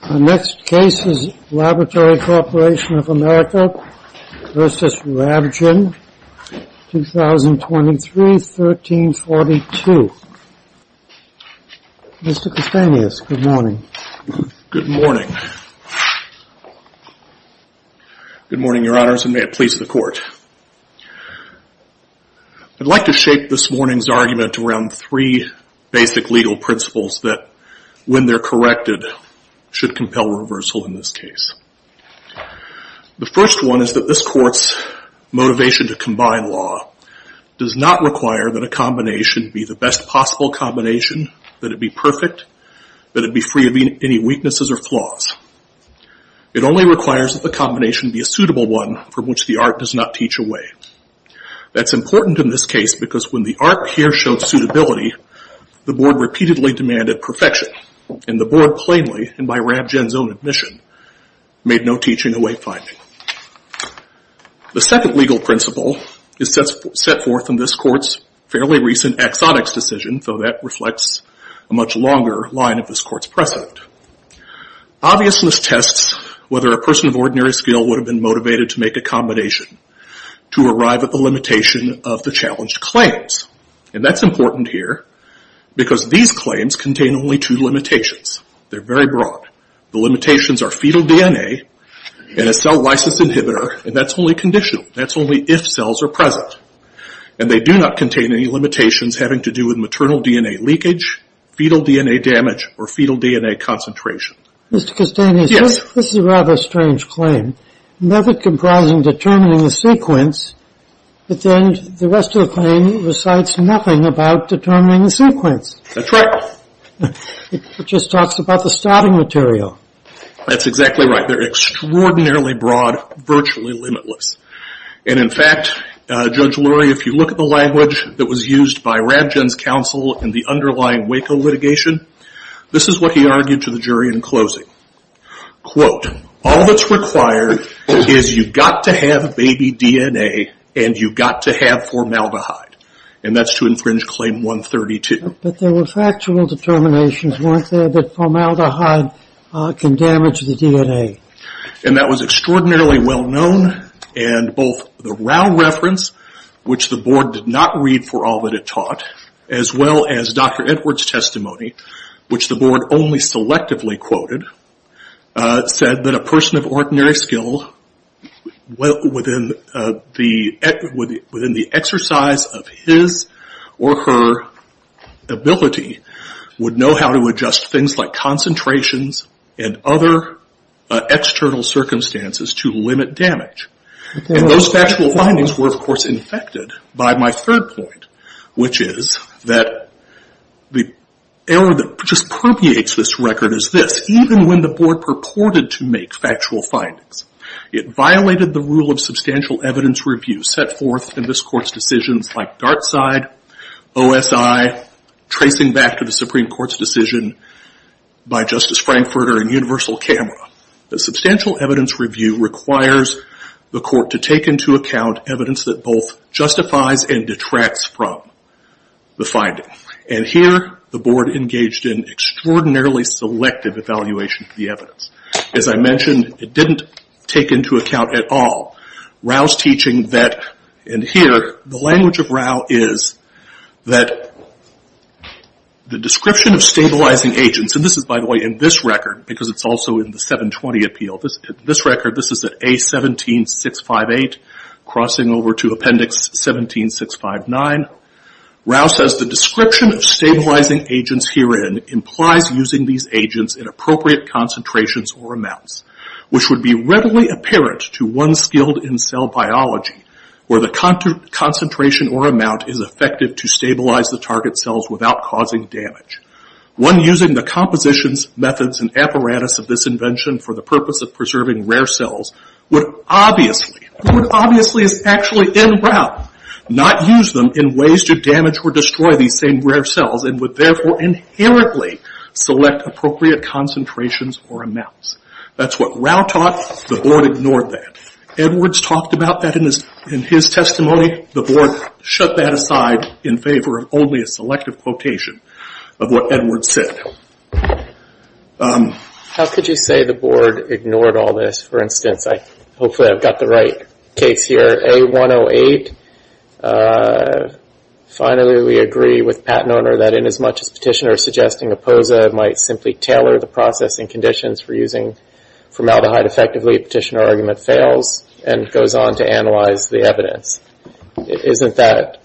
The next case is Laboratory Corporation of America v. Ravgen, 2023-1342. Mr. Castanhas, good morning. Good morning. Good morning, Your Honors, and may it please the Court. I'd like to shape this morning's argument around three basic legal principles that, when they're corrected, should compel reversal in this case. The first one is that this Court's motivation to combine law does not require that a combination be the best possible combination, that it be perfect, that it be free of any weaknesses or flaws. It only requires that the combination be a suitable one from which the art does not teach away. That's important in this case because when the art here showed suitability, the Board repeatedly demanded perfection, and the Board plainly, and by Ravgen's own admission, made no teaching away finding. The second legal principle is set forth in this Court's fairly recent axonics decision, though that reflects a much longer line of this Court's precedent. Obviousness tests whether a person of ordinary skill would have been motivated to make a combination to arrive at the limitation of the challenged claims. And that's important here because these claims contain only two limitations. They're very broad. The limitations are fetal DNA and a cell lysis inhibitor, and that's only conditional. That's only if cells are present. And they do not contain any limitations having to do with maternal DNA leakage, fetal DNA damage, or fetal DNA concentration. Mr. Castanis, this is a rather strange claim. Never comprising determining the sequence, but then the rest of the claim recites nothing about determining the sequence. That's right. It just talks about the starting material. That's exactly right. They're extraordinarily broad, virtually limitless. And in fact, Judge Lurie, if you look at the language that was used by Ravgen's counsel in the underlying Waco litigation, this is what he argued to the jury in closing. Quote, all that's required is you've got to have baby DNA and you've got to have formaldehyde. And that's to infringe claim 132. But there were factual determinations, weren't there, that formaldehyde can damage the DNA? And that was extraordinarily well known, and both the Rao reference, which the board did not read for all that it taught, as well as Dr. Edwards' testimony, which the board only selectively quoted, said that a person of ordinary skill within the exercise of his or her ability would know how to adjust things like concentrations and other external circumstances to limit damage. And those factual findings were, of course, infected by my third point, which is that the error that dispropriates this record is this. Even when the board purported to make factual findings, it violated the rule of substantial evidence review set forth in this court's decisions like Dartside, OSI, tracing back to the Supreme Court's decision by Justice Frankfurter and Universal Camera. The substantial evidence review requires the court to take into account evidence that both justifies and detracts from the finding. And here, the board engaged in extraordinarily selective evaluation of the evidence. As I mentioned, it didn't take into account at all Rao's teaching that, and here, the language of Rao is that the description of stabilizing agents, and this is, by the way, in this record, because it's also in the 720 appeal. In this record, this is at A17658, crossing over to Appendix 17659. Rao says, the description of stabilizing agents herein implies using these agents in appropriate concentrations or amounts, which would be readily apparent to one skilled in cell biology where the concentration or amount is effective to stabilize the target cells without causing damage. One using the compositions, methods, and apparatus of this invention for the purpose of preserving rare cells would obviously, what would obviously is actually in Rao, not use them in ways to damage or destroy these same rare cells and would therefore inherently select appropriate concentrations or amounts. That's what Rao taught. The board ignored that. Edwards talked about that in his testimony. The board shut that aside in favor of only a selective quotation of what Edwards said. How could you say the board ignored all this? For instance, hopefully I've got the right case here, A108. Finally, we agree with patent owner that in as much as petitioner suggesting a POSA might simply tailor the process and conditions for using formaldehyde effectively, petitioner argument fails and goes on to analyze the evidence. Isn't that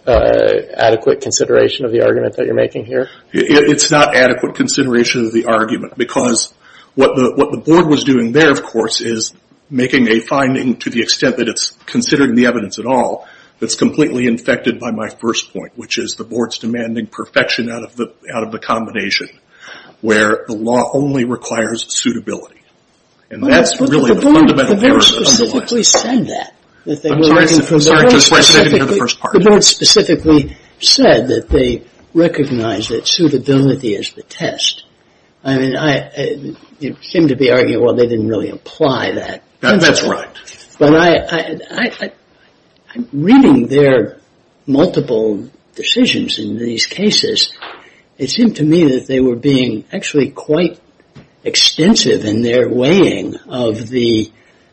adequate consideration of the argument that you're making here? It's not adequate consideration of the argument because what the board was doing there of course is making a finding to the extent that it's considering the evidence at all that's completely infected by my first point, which is the board's demanding perfection out of the combination where the law only requires suitability. And that's really the fundamental purpose of the law. But the board specifically said that. I'm sorry, just so I said it in the first part. The board specifically said that they recognize that suitability is the test. I mean, it seemed to be arguing, well, they didn't really apply that. That's right. But reading their multiple decisions in these cases, it seemed to me that they were being actually quite extensive in their weighing of the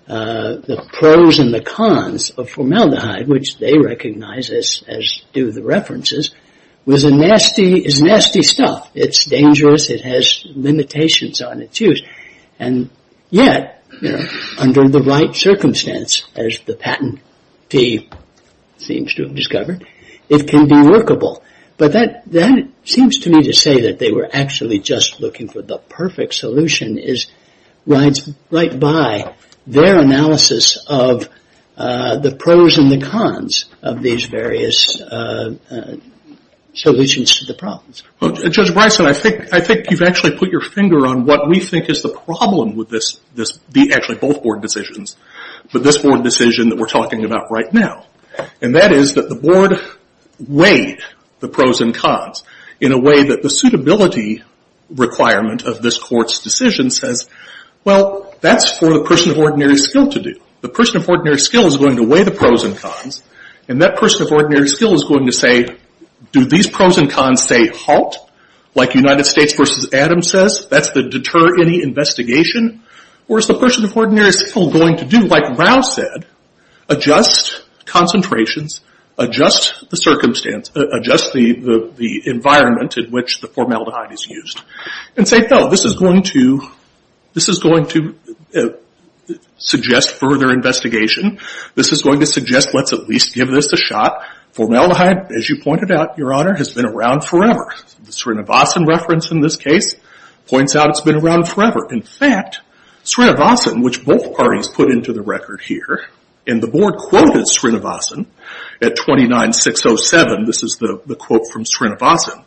pros and the cons of formaldehyde, which they recognize, as do the references, was a nasty, is nasty stuff. It's dangerous. It has limitations on its use. And yet, under the right circumstance, as the patentee seems to have discovered, it can be workable. But that seems to me to say that they were actually just looking for the perfect solution is right by their analysis of the pros and the cons of these various solutions to the problems. Judge Bryson, I think you've actually put your finger on what we think is the problem with this, actually both board decisions, but this board decision that we're talking about right now. And that is that the board weighed the pros and cons in a way that the suitability requirement of this court's decision says, well, that's for the person of ordinary skill to do. The person of ordinary skill is going to weigh the pros and cons. And that person of ordinary skill is going to say, do these pros and cons say halt, like United States versus Adams says? That's to deter any investigation? Or is the person of ordinary skill going to do, like Rao said, adjust concentrations, adjust the environment in which the formaldehyde is used? And say, no, this is going to suggest further investigation. This is going to suggest let's at least give this a shot. Formaldehyde, as you pointed out, Your Honor, has been around forever. The Srinivasan reference in this case points out it's been around forever. In fact, Srinivasan, which both parties put into the record here, and the board quoted Srinivasan at 29-607. This is the quote from Srinivasan.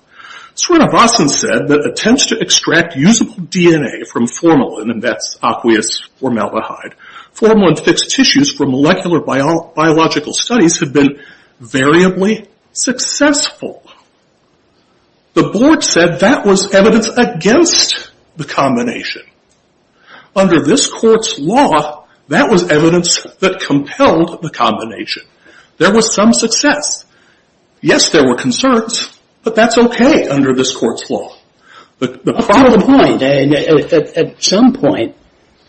Srinivasan said that attempts to extract usable DNA from formalin, and that's aqueous formaldehyde, formalin-fixed tissues for molecular biological studies have been variably successful. The board said that was evidence against the combination. Under this court's law, that was evidence that compelled the combination. There was some success. Yes, there were concerns, but that's okay under this court's law. The problem- At some point,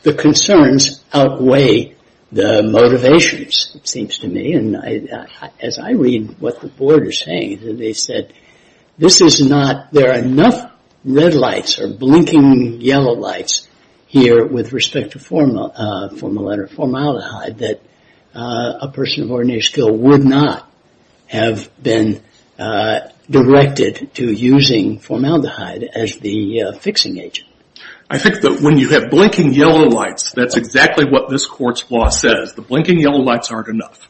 the concerns outweigh the motivations, it seems to me. And as I read what the board is saying, they said, this is not, there are enough red lights or blinking yellow lights here with respect to formaldehyde that a person of ordinary skill would not have been directed to using formaldehyde as the fixing agent. I think that when you have blinking yellow lights, that's exactly what this court's law says. The blinking yellow lights aren't enough.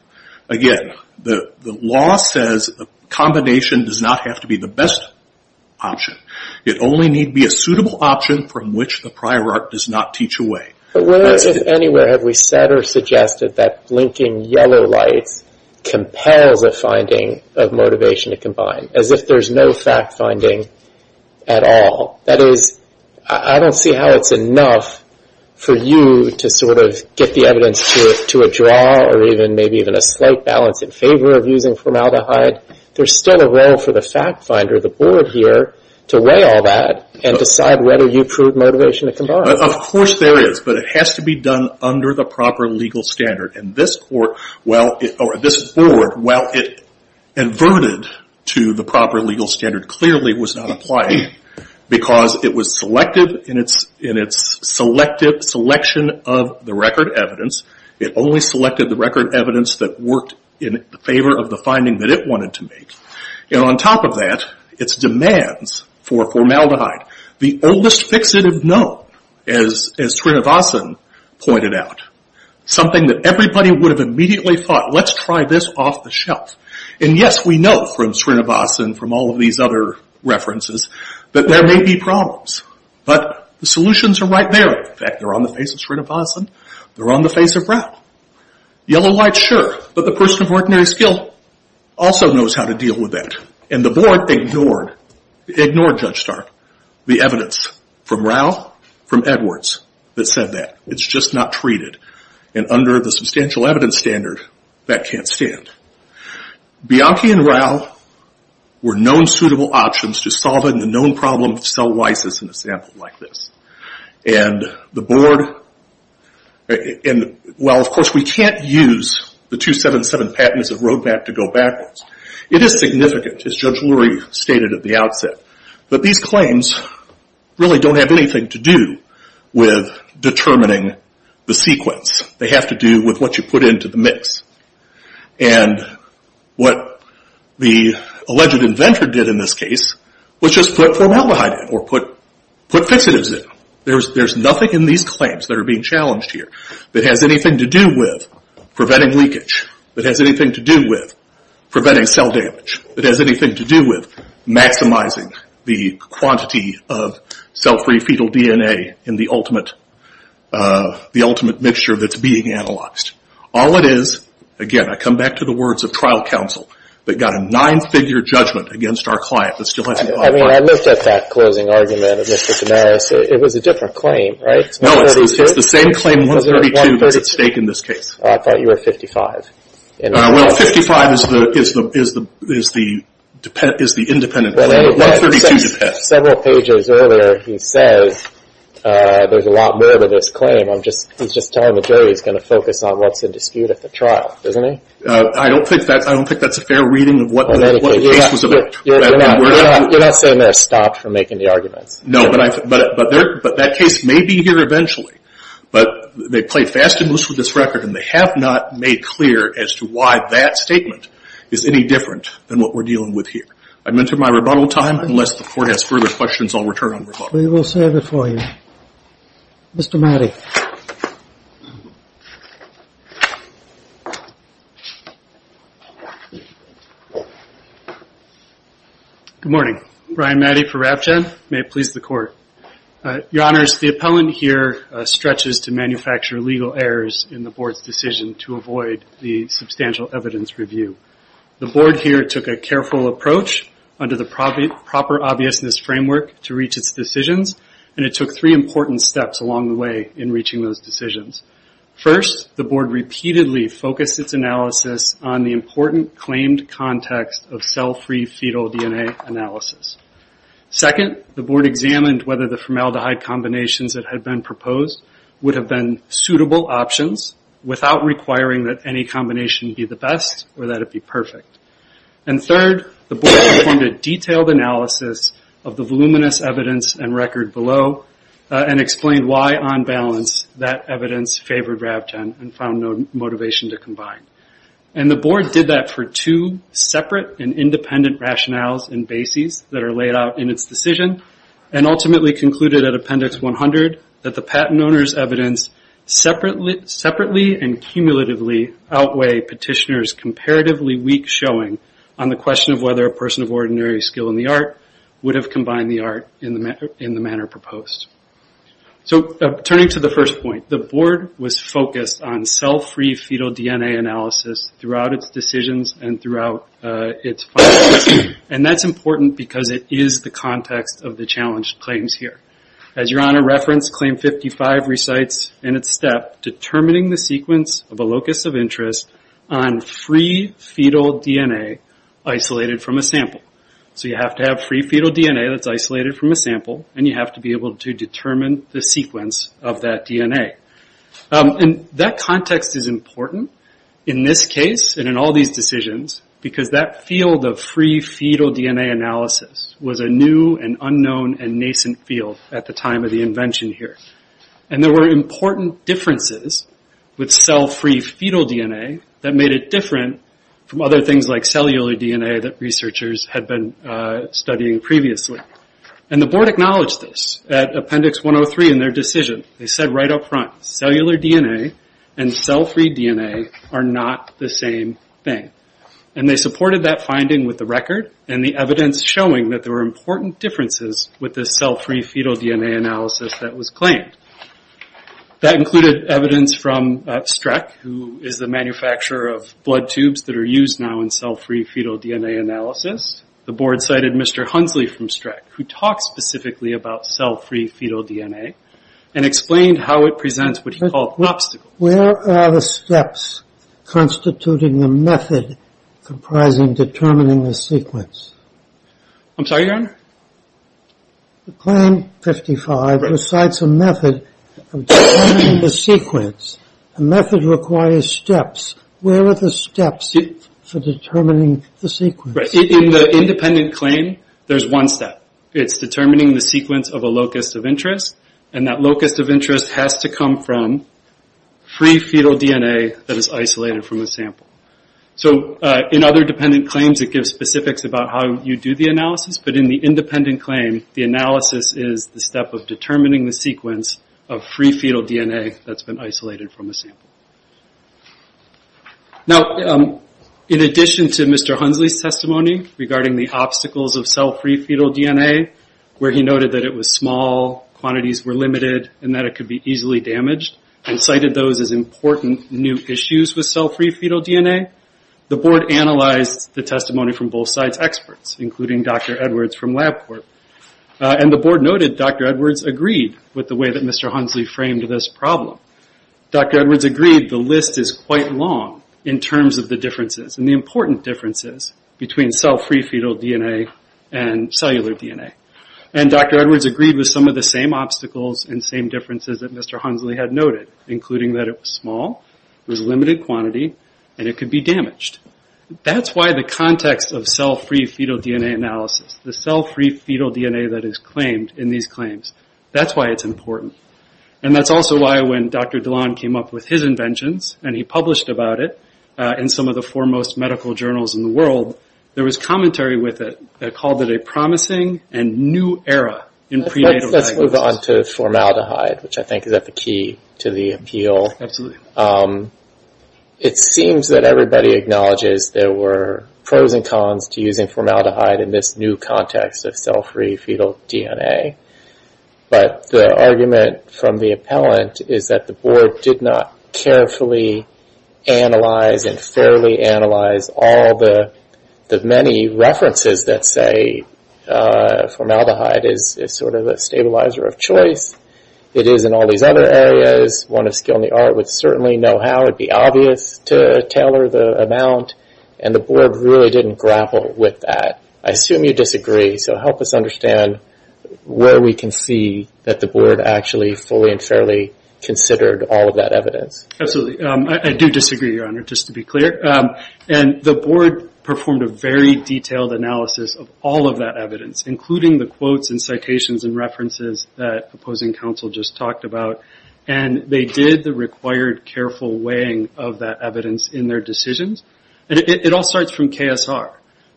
Again, the law says the combination does not have to be the best option. It only need be a suitable option from which the prior art does not teach away. Where else if anywhere have we said or suggested that blinking yellow lights compels a finding of motivation to combine, as if there's no fact-finding at all? That is, I don't see how it's enough for you to sort of get the evidence to a draw or maybe even a slight balance in favor of using formaldehyde. There's still a role for the fact finder, the board here, to weigh all that and decide whether you prove motivation to combine. Of course there is, but it has to be done under the proper legal standard. And this board, while it inverted to the proper legal standard, clearly was not applying because it was selective in its selection of the record evidence. It only selected the record evidence that worked in favor of the finding that it wanted to make. And on top of that, its demands for formaldehyde, the oldest fixative known, as Srinivasan pointed out, something that everybody would have immediately thought, let's try this off the shelf. And yes, we know from Srinivasan, from all of these other references, that there may be problems, but the solutions are right there. In fact, they're on the face of Srinivasan. They're on the face of Rao. Yellow light, sure, but the person of ordinary skill also knows how to deal with that. And the board ignored, it ignored Judge Stark, the evidence from Rao, from Edwards, that said that. It's just not treated. And under the substantial evidence standard, that can't stand. Bianchi and Rao were known suitable options to solving the known problem of cell lysis in a sample like this. And the board, and while of course we can't use the 277 patents of Roadmap to go backwards, it is significant, as Judge Lurie stated at the outset. But these claims really don't have anything to do with determining the sequence. They have to do with what you put into the mix. And what the alleged inventor did in this case, was just put formaldehyde in, or put fixatives in. There's nothing in these claims that are being challenged here that has anything to do with preventing leakage, that has anything to do with preventing cell damage, that has anything to do with maximizing the quantity of cell-free fetal DNA in the ultimate mixture that's being analyzed. All it is, again I come back to the words of trial counsel, that got a nine-figure judgment against our client that still hasn't gotten it. I mean, I looked at that closing argument of Mr. Damaris. It was a different claim, right? No, it's the same claim 132 that's at stake in this case. I thought you were 55. Well, 55 is the independent claim, but 132 depends. Several pages earlier, he says there's a lot more to this claim. He's just telling the jury he's going to focus on what's at dispute at the trial, isn't he? I don't think that's a fair reading of what the case was about. You're not saying they're stopped from making the arguments. No, but that case may be here eventually. But they played fast and loose with this record, and they have not made clear as to why that statement is any different than what we're dealing with here. I'm into my rebuttal time. Unless the Court has further questions, I'll return on rebuttal. We will serve it for you. Mr. Matty. Good morning. Brian Matty for RabGen. May it please the Court. Your Honors, the appellant here stretches to manufacture legal errors in the Board's decision to avoid the substantial evidence review. The Board here took a careful approach under the proper obviousness framework to reach its decisions, and it took three important steps along the way in reaching those decisions. First, the Board repeatedly focused its analysis on the important claimed context of cell-free fetal DNA analysis. Second, the Board examined whether the formaldehyde combinations that had been proposed would have been suitable options without requiring that any combination be the best or that it be perfect. And third, the Board performed a detailed analysis of the voluminous evidence and record below and explained why, on balance, that evidence favored RabGen and found no motivation to combine. And the Board did that for two separate and independent rationales and bases that are laid out in its decision and ultimately concluded at Appendix 100 that the patent owner's evidence separately and cumulatively outweigh petitioner's comparatively weak showing on the question of whether a person of ordinary skill in the art would have combined the art in the manner proposed. So, turning to the first point, the Board was focused on cell-free fetal DNA analysis throughout its decisions and throughout its findings. And that's important because it is the context of the challenged claims here. As Your Honor referenced, Claim 55 recites in its step determining the sequence of a locus of interest on free fetal DNA isolated from a sample. So you have to have free fetal DNA that's isolated from a sample and you have to be able to determine the sequence of that DNA. And that context is important in this case and in all these decisions because that field of free fetal DNA analysis was a new and unknown and nascent field at the time of the invention here. And there were important differences with cell-free fetal DNA that made it different from other things like cellular DNA that researchers had been studying previously. And the Board acknowledged this at Appendix 103 in their decision. They said right up front, cellular DNA and cell-free DNA are not the same thing. And they supported that finding with the record and the evidence showing that there were important differences with the cell-free fetal DNA analysis that was claimed. That included evidence from Streck, who is the manufacturer of blood tubes that are used now in cell-free fetal DNA analysis. The Board cited Mr. Hunsley from Streck, who talked specifically about cell-free fetal DNA and explained how it presents what he called an obstacle. Where are the steps constituting the method comprising determining the sequence? I'm sorry, Your Honor? The Claim 55 recites a method of determining the sequence. A method requires steps. Where are the steps for determining the sequence? In the independent claim, there's one step. It's determining the sequence of a locus of interest. And that locus of interest has to come from free fetal DNA that is isolated from the sample. So in other dependent claims, it gives specifics about how you do the analysis. But in the independent claim, the analysis is the step of determining the sequence of free fetal DNA that's been isolated from the sample. Now, in addition to Mr. Hunsley's testimony regarding the obstacles of cell-free fetal DNA, where he noted that it was small, quantities were limited, and that it could be easily damaged, and cited those as important new issues with cell-free fetal DNA, the Board analyzed the testimony from both sides' experts, including Dr. Edwards from LabCorp. And the Board noted Dr. Edwards agreed with the way that Mr. Hunsley framed this problem. Dr. Edwards agreed the list is quite long in terms of the differences and the important differences between cell-free fetal DNA and cellular DNA. And Dr. Edwards agreed with some of the same obstacles and same differences that Mr. Hunsley had noted, including that it was small, it was a limited quantity, and it could be damaged. That's why the context of cell-free fetal DNA analysis, the cell-free fetal DNA that is claimed in these claims, that's why it's important. And that's also why when Dr. Dilan came up with his inventions, and he published about it in some of the foremost medical journals in the world, there was commentary with it that called it a promising and new era in prenatal diagnosis. Let's move on to formaldehyde, which I think is at the key to the appeal. Absolutely. It seems that everybody acknowledges there were pros and cons to using formaldehyde in this new context of cell-free fetal DNA. But the argument from the appellant is that the Board did not carefully analyze and fairly analyze all the many references that say formaldehyde is sort of a stabilizer of choice. It is in all these other areas. One of skill in the art would certainly know how. It would be obvious to tailor the amount. And the Board really didn't grapple with that. I assume you disagree, so help us understand where we can see that the Board actually fully and fairly considered all of that evidence. Absolutely. I do disagree, Your Honor, just to be clear. The Board performed a very detailed analysis of all of that evidence, including the quotes and citations and references that opposing counsel just talked about. They did the required careful weighing of that evidence in their decisions. It all starts from KSR.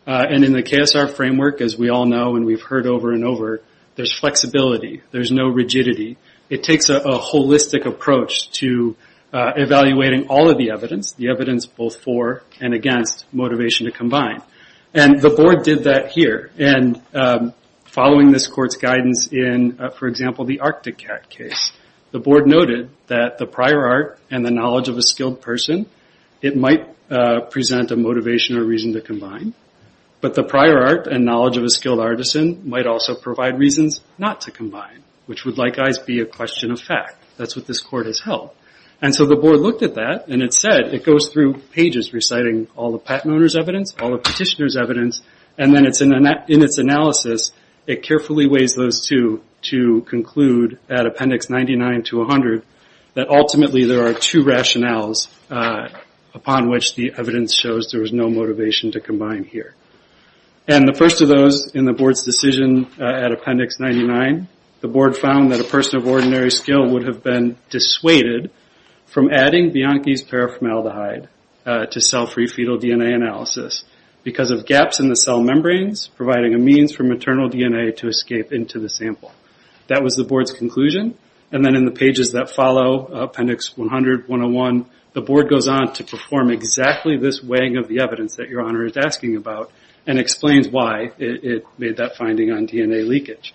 In the KSR framework, as we all know and we've heard over and over, there's flexibility. There's no rigidity. It takes a holistic approach to evaluating all of the evidence, the evidence both for and against motivation to combine. The Board did that here. Following this Court's guidance in, for example, the Arctic Cat case, the Board noted that the prior art and the knowledge of a skilled person, it might present a motivation or reason to combine. But the prior art and knowledge of a skilled artisan might also provide reasons not to combine, which would likewise be a question of fact. That's what this Court has held. The Board looked at that and it said it goes through pages reciting all the patent owner's evidence, all the petitioner's evidence, and then in its analysis it carefully weighs those two to conclude at Appendix 99 to 100 that ultimately there are two rationales upon which the evidence shows there was no motivation to combine here. The first of those in the Board's decision at Appendix 99, the Board found that a person of ordinary skill would have been dissuaded from adding Bianchi's paraformaldehyde to cell-free fetal DNA analysis because of gaps in the cell membranes providing a means for maternal DNA to escape into the sample. That was the Board's conclusion. Then in the pages that follow, Appendix 100, 101, the Board goes on to perform exactly this weighing of the evidence that Your Honor is asking about and explains why it made that finding on DNA leakage.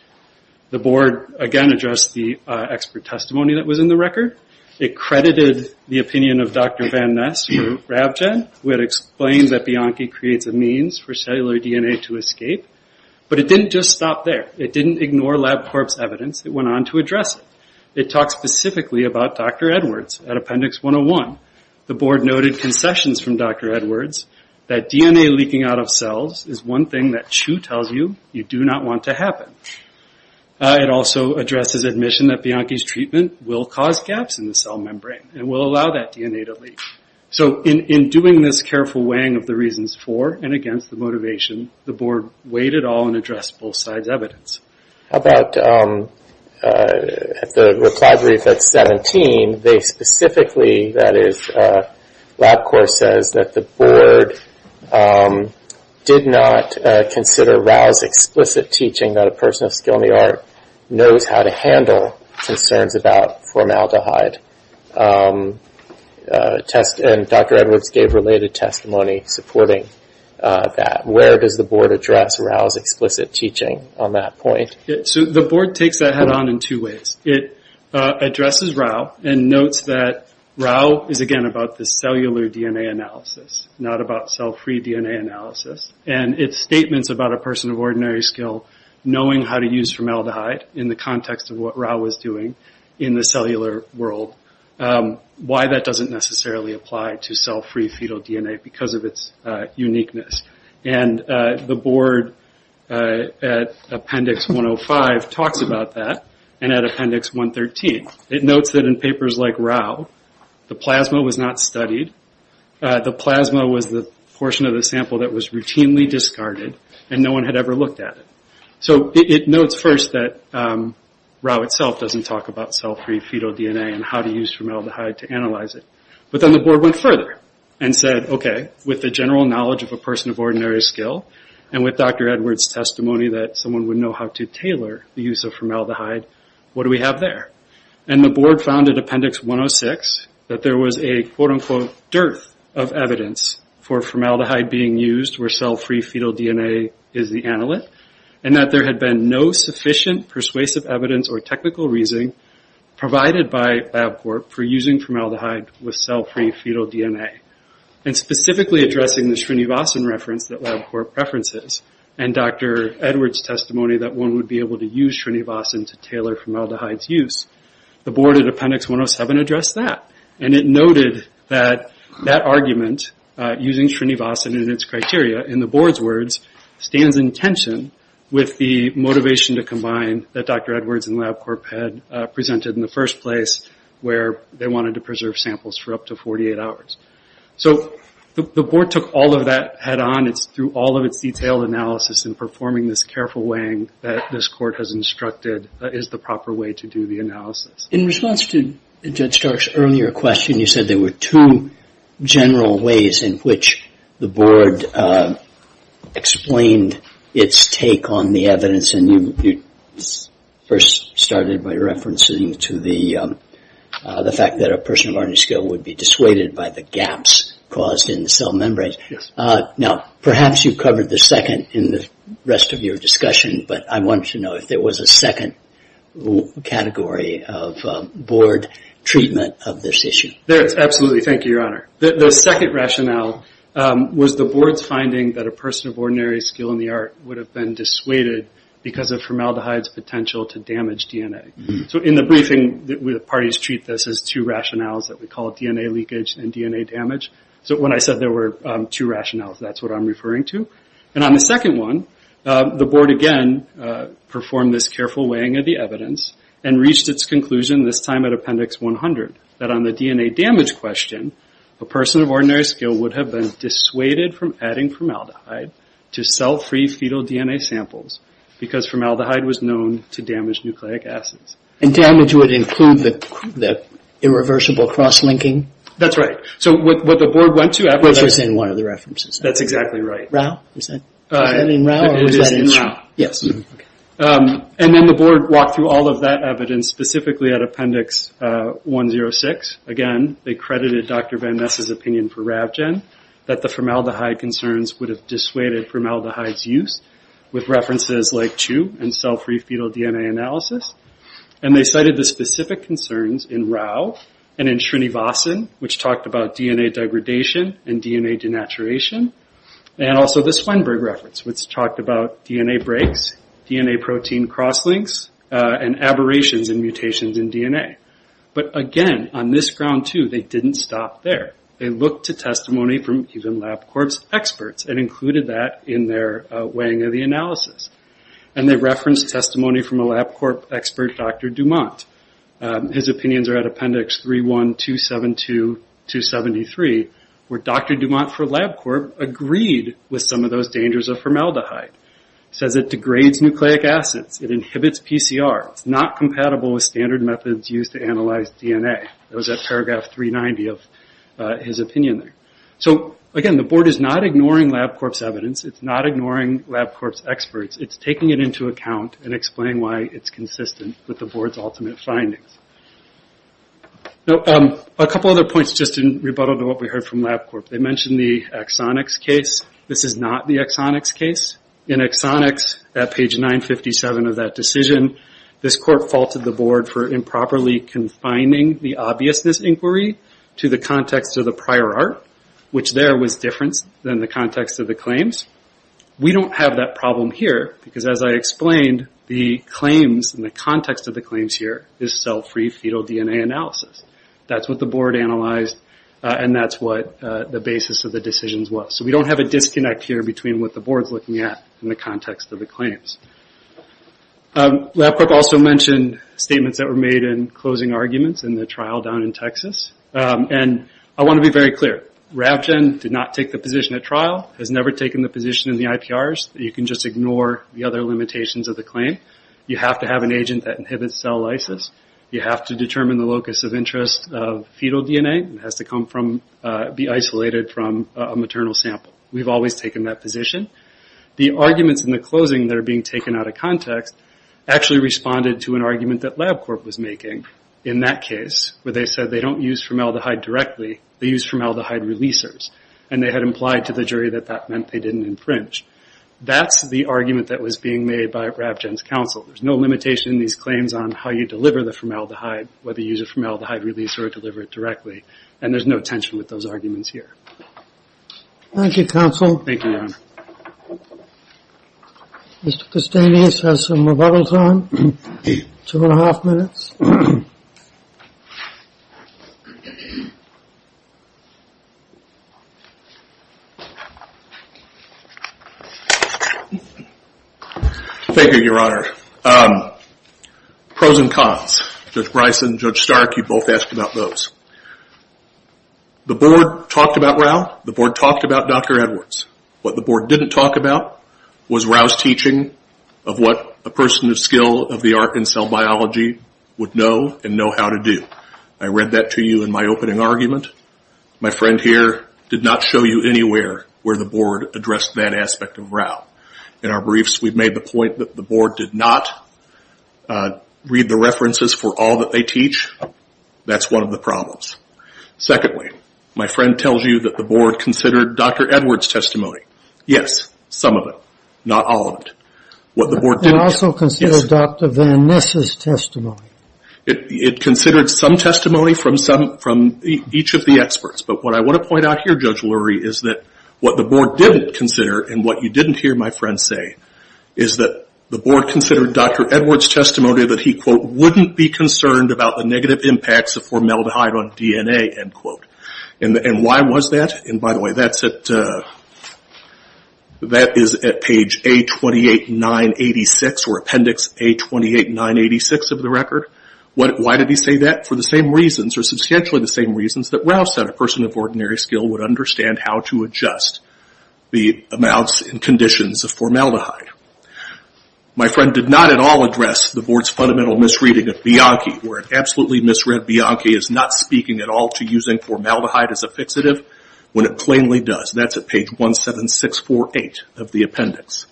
The Board again addressed the expert testimony that was in the record It credited the opinion of Dr. Van Ness from RabGen who had explained that Bianchi creates a means for cellular DNA to escape, but it didn't just stop there. It didn't ignore lab corpse evidence. It went on to address it. It talked specifically about Dr. Edwards at Appendix 101. The Board noted concessions from Dr. Edwards that DNA leaking out of cells is one thing that Chu tells you you do not want to happen. It also addresses admission that Bianchi's treatment will cause gaps in the cell membrane and will allow that DNA to leak. So in doing this careful weighing of the reasons for and against the motivation, the Board weighed it all and addressed both sides' evidence. How about at the reply brief at 17, they specifically, that is, LabCorp says that the Board did not consider Rao's explicit teaching that a person of skill in the art knows how to handle concerns about formaldehyde. Dr. Edwards gave related testimony supporting that. Where does the Board address Rao's explicit teaching on that point? The Board takes that head on in two ways. It addresses Rao and notes that Rao is, again, about the cellular DNA analysis not about cell-free DNA analysis. It's statements about a person of ordinary skill knowing how to use formaldehyde in the context of what Rao was doing in the cellular world. Why that doesn't necessarily apply to cell-free fetal DNA because of its uniqueness. The Board, at Appendix 105, talks about that and at Appendix 113. It notes that in papers like Rao, the plasma was not studied. The plasma was the portion of the sample that was routinely discarded and no one had ever looked at it. It notes first that Rao itself doesn't talk about cell-free fetal DNA and how to use formaldehyde to analyze it. But then the Board went further and said, with the general knowledge of a person of ordinary skill and with Dr. Edwards' testimony that someone would know how to tailor the use of formaldehyde, what do we have there? The Board found at Appendix 106 that there was a, quote-unquote, dearth of evidence for formaldehyde being used where cell-free fetal DNA is the analyte and that there had been no sufficient persuasive evidence or technical reasoning provided by LabCorp for using formaldehyde with cell-free fetal DNA and specifically addressing the Srinivasan reference that LabCorp preferences and Dr. Edwards' testimony that one would be able to use Srinivasan to tailor formaldehyde's use. The Board at Appendix 107 addressed that and it noted that that argument, using Srinivasan in its criteria, in the Board's words, stands in tension with the motivation to combine that Dr. Edwards and LabCorp had presented in the first place where they wanted to preserve samples for up to 48 hours. The Board took all of that head-on through all of its detailed analysis in performing this careful weighing that this Court has instructed is the proper way to do the analysis. In response to Judge Stark's earlier question, you said there were two general ways in which the Board explained its take on the evidence and you first started by referencing to the fact that a person of learning skill would be dissuaded by the gaps caused in the cell membranes. Perhaps you covered the second in the rest of your discussion but I wanted to know if there was a second category of Board treatment of this issue. Absolutely. Thank you, Your Honor. The second rationale was the Board's finding that a person of ordinary skill in the art would have been dissuaded because of formaldehyde's potential to damage DNA. In the briefing, the parties treat this as two rationales that we call DNA leakage and DNA damage. When I said there were two rationales, that's what I'm referring to. On the second one, the Board again performed this careful weighing of the evidence and reached its conclusion this time at Appendix 100 that on the DNA damage question a person of ordinary skill would have been dissuaded from adding formaldehyde to cell-free fetal DNA samples because formaldehyde was known to damage nucleic acids. Damage would include the irreversible cross-linking? That's right. What the Board went through was one of the references. That's exactly right. Was that in Rau? The Board walked through all of that evidence, specifically at Appendix 106. Again, they credited Dr. Van Ness' opinion for Ravgen that the formaldehyde concerns would have dissuaded formaldehyde's use with references like CHU and cell-free fetal DNA analysis. They cited the specific concerns in Rau and in Shrinivasan which talked about DNA degradation and DNA denaturation and also the Swenberg reference which talked about DNA breaks, DNA protein cross-links and aberrations and mutations in DNA. Again, on this ground too, they didn't stop there. They looked to testimony from even LabCorp's experts and included that in their weighing of the analysis. They referenced testimony from a LabCorp expert, Dr. Dumont. His opinions are at Appendix 31272-273 where Dr. Dumont for LabCorp agreed with some of those dangers of formaldehyde. He says it degrades nucleic acids. It inhibits PCR. It's not compatible with standard methods used to analyze DNA. It was at paragraph 390 of his opinion there. Again, the Board is not ignoring LabCorp's evidence. It's not ignoring LabCorp's experts. It's taking it into account and explaining why it's consistent with the Board's ultimate findings. A couple other points in rebuttal to what we heard from LabCorp. They mentioned the Exonix case. This is not the Exonix case. In Exonix, at page 957 of that decision, this court faulted the Board for improperly confining the obviousness inquiry to the context of the prior art, which there was different than the context of the claims. We don't have that problem here because as I explained, the claims, in the context of the claims here, is cell-free fetal DNA analysis. That's what the Board analyzed and that's what the basis of the decisions was. We don't have a disconnect here between what the Board's looking at in the context of the claims. LabCorp also mentioned statements that were made in closing arguments in the trial down in Texas. I want to be very clear. RavGen did not take the position at trial, has never taken the position in the IPRs. You can just ignore the other limitations of the claim. You have to have an agent that inhibits cell lysis. You have to determine the locus of interest of fetal DNA. It has to be isolated from a maternal sample. We've always taken that position. The arguments in the closing that are being taken out of context actually responded to an argument that LabCorp was making in that case, where they said they don't use formaldehyde directly. They use formaldehyde releasers. They had implied to the jury that that meant they didn't infringe. That's the argument that was being made by RavGen's counsel. There's no limitation in these claims on how you deliver the formaldehyde, whether you use a formaldehyde releaser or deliver it directly. There's no tension with those arguments here. Thank you, counsel. Thank you, John. Mr. Castanis has some rebuttals on. Two and a half minutes. Thank you, Your Honor. Pros and cons. Judge Bryson, Judge Stark, you both asked about those. The board talked about Rao. The board talked about Dr. Edwards. What the board didn't talk about was Rao's teaching of what a person of skill of the art in cell biology would know and know how to do. I read that to you in my opening argument. My friend here did not show you anywhere where the board addressed that aspect of Rao. In our briefs we've made the point that the board did not read the references for all that they teach. That's one of the problems. Secondly, my friend tells you that the board considered Dr. Edwards' testimony. Yes, some of it. Not all of it. It also considered Dr. Van Ness' It considered some testimony from each of the experts. What I want to point out here, Judge Lurie, is that what the board didn't consider and what you didn't hear my friend say is that the board considered Dr. Edwards' testimony that he wouldn't be concerned about the negative impacts of formaldehyde on DNA. Why was that? By the way, that is at page A28986 or appendix A28986 of the record. Why did he say that? For the same reasons, that Rouse said a person of ordinary skill would understand how to adjust the amounts and conditions of formaldehyde. My friend did not at all address the board's fundamental misreading of Bianchi where it absolutely misread Bianchi as not speaking at all to using formaldehyde as a fixative when it plainly does. That's at page 17648 of the appendix.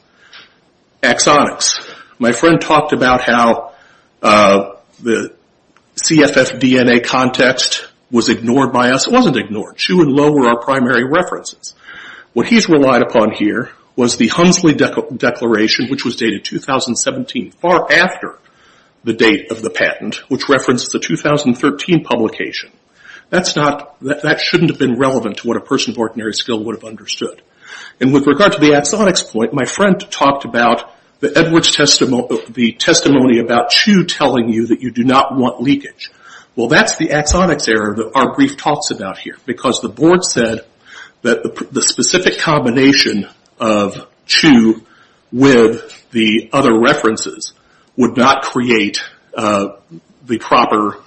Axonics. My friend talked about how the CFF DNA context was ignored by us. It wasn't ignored. Chu and Low were our primary references. What he's relied upon here was the Hunsley Declaration, which was dated 2017, far after the date of the patent, which references the 2013 publication. That shouldn't have been relevant to what a person of ordinary skill would have understood. With regard to the Axonics point, my friend talked about the testimony about Chu telling you that you do not want leakage. That's the Axonics error that our brief talks about here because the board said that the specific combination of Chu with the other references would not create the proper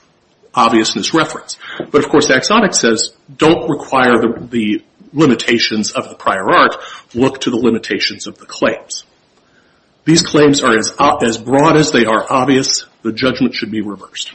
obviousness reference. Of course, Axonics says don't require the limitations of the prior art. Look to the limitations of the claims. These claims are as broad as they are obvious. The judgment should be reversed.